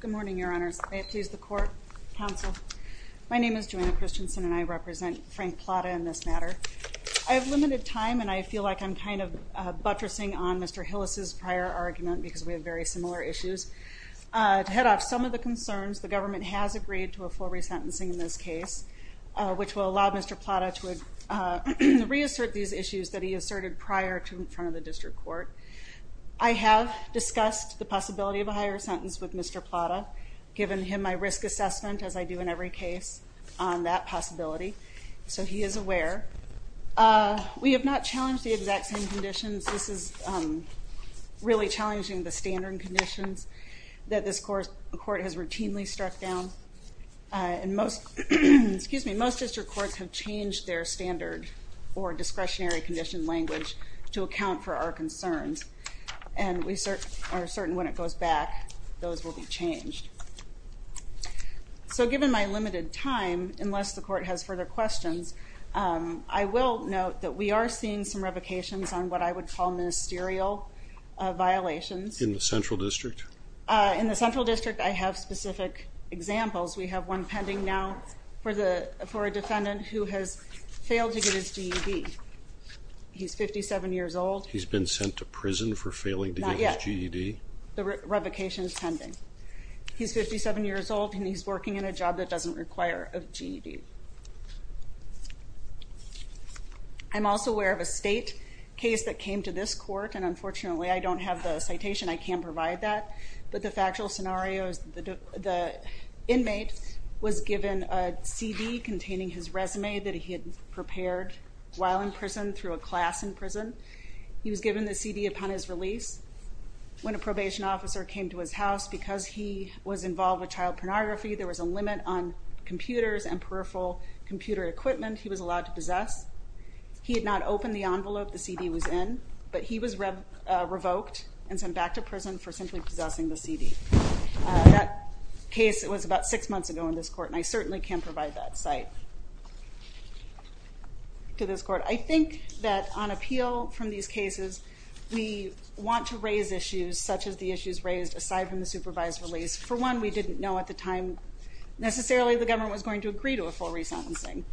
Good morning, your honors. May it please the court, counsel. My name is Joanna Christensen and I represent Frank Plada in this matter. I have limited time and I feel like I'm kind of buttressing on Mr. Hillis' prior argument because we have very similar issues. To head off some of the concerns, the government has agreed to a full resentencing in this case, which will allow Mr. Plada to reassert these issues that he asserted prior to in front of the district court. I have discussed the possibility of a higher sentence with Mr. Plada, given him my risk assessment, as I do in every case, on that possibility. So he is aware. We have not challenged the exact same conditions. This is really challenging the standard conditions that this court has routinely struck down. Most district courts have changed their standard or discretionary condition language to account for our concerns and we are certain when it goes back, those will be changed. So given my limited time, unless the court has further questions, I will note that we are seeing some revocations on what I would call ministerial violations. In the central district? In the central district I have specific examples. We have one pending now for a defendant who has failed to get his GED. He's 57 years old. He's been sent to prison for failing to get his GED? Not yet. The revocation is pending. He's 57 years old and he's working in a job that doesn't require a GED. I'm also aware of a state case that came to this court and unfortunately I don't have the citation, I can't provide that, but the factual scenario is the inmate was given a CD containing his resume that he had prepared while in prison through a class in prison. He was given the CD upon his release. When a probation officer came to his house, because he was involved with child pornography, there was a limit on computers and peripheral computer equipment he was allowed to possess. He had not opened the envelope the CD was in, but he was revoked and sent back to prison for simply possessing the CD. That case was about six months ago in this court and I certainly can't provide that cite to this court. I think that on appeal from these cases, we want to raise issues such as the issues raised aside from the supervised release. For one, we didn't know at the time necessarily the government was going to agree to a full resentencing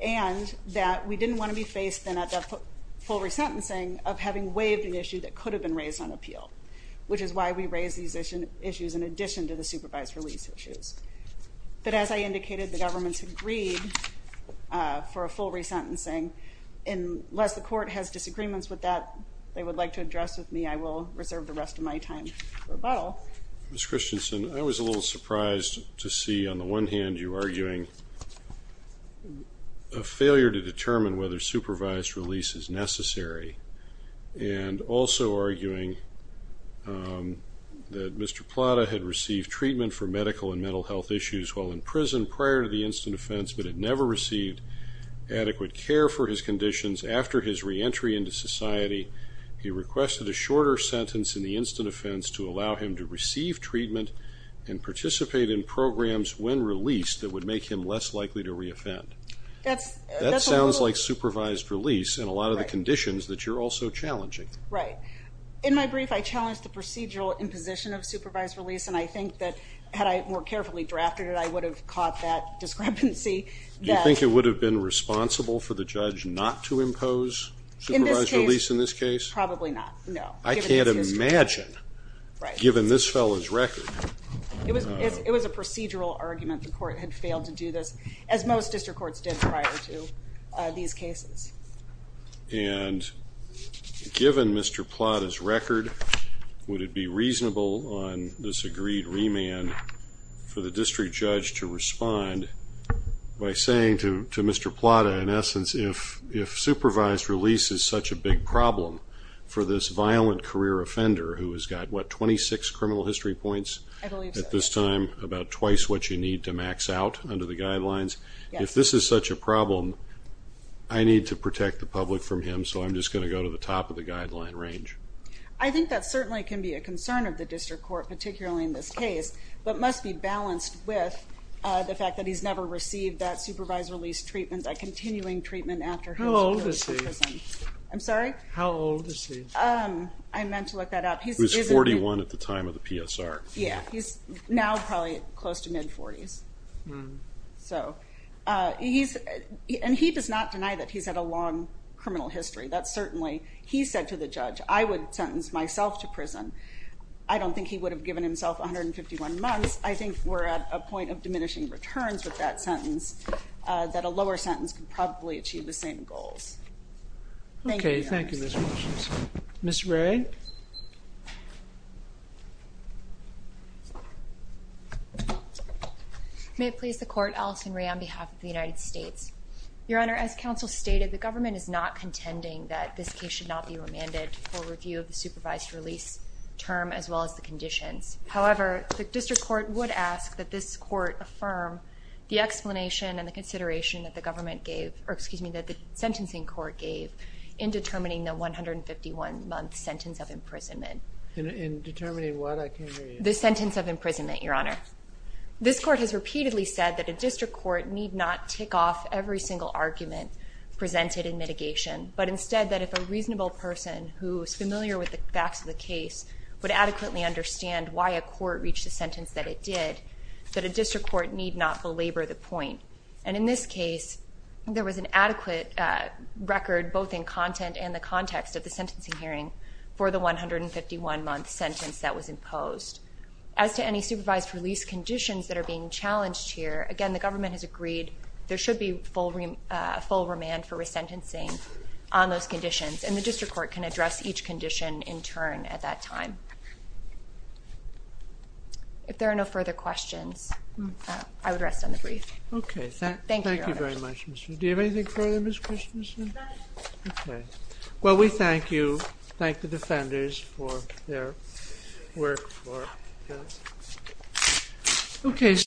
and that we were going to have a full resentencing of having waived an issue that could have been raised on appeal, which is why we raised these issues in addition to the supervised release issues. But as I indicated, the government agreed for a full resentencing and unless the court has disagreements with that they would like to address with me, I will reserve the rest of my time for rebuttal. Ms. Christensen, I was a little surprised to see on the one hand you arguing a failure to determine whether supervised release is necessary and also arguing that Mr. Plata had received treatment for medical and mental health issues while in prison prior to the instant offense but had never received adequate care for his conditions. After his reentry into society, he requested a shorter sentence in the instant offense to allow him to receive treatment and participate in programs when released that would make him less likely to reoffend. That sounds like supervised release in a lot of the conditions that you're also challenging. Right. In my brief, I challenged the procedural imposition of supervised release and I think that had I more carefully drafted it, I would have caught that discrepancy. Do you think it would have been responsible for the judge not to Right. Given this fellow's record. It was a procedural argument. The court had failed to do this as most district courts did prior to these cases. And given Mr. Plata's record, would it be reasonable on this agreed remand for the district judge to respond by saying to Mr. Plata in essence if supervised release is such a big problem for this violent career offender who has got what, 26 criminal history points? I believe so. At this time about twice what you need to max out under the guidelines. If this is such a problem, I need to protect the public from him so I'm just going to go to the top of the guideline range. I think that certainly can be a concern of the district court particularly in this case but must be balanced with the fact that he's never received that supervised release treatment, that continuing treatment after his. How old is he? I'm sorry? How old is he? I meant to look that up. He's 41 at the time of the PSR. Yeah, he's now probably close to mid 40s. So he's, and he does not deny that he's had a long criminal history. That certainly, he said to the judge I would sentence myself to prison. I don't think he would have given himself 151 months. I think we're at a point of diminishing returns with that sentence, that a lower sentence can probably achieve the same goals. Thank you. Okay, thank you Ms. Walsh. Ms. Ray? May it please the court, Alison Ray on behalf of the United States. Your Honor, as counsel stated the government is not contending that this case should not be remanded for review of the supervised release term as well as the conditions. However, the district court would ask that this court affirm the explanation and the consideration that the government gave, or excuse me, that the sentencing court gave in determining the 151 month sentence of imprisonment. In determining what? I can't hear you. The sentence of imprisonment, Your Honor. This court has repeatedly said that a district court need not tick off every single argument presented in mitigation, but instead that if a reasonable person who is familiar with the facts of the case would adequately understand why a court reached a sentence that it did, that a district court need not belabor the point. And in this case, there was an adequate record both in content and the context of the sentencing hearing for the 151 month sentence that was imposed. As to any supervised release conditions that are being challenged here, again the government has agreed there should be full remand for resentencing on those conditions, and the district court can address each condition in turn at that time. If there are no further questions, I would rest on the brief. Thank you, Your Honor. Thank you very much. Do you have anything further, Ms. Christensen? Nothing. Okay. Well, we thank you. Thank the defenders for their work for us.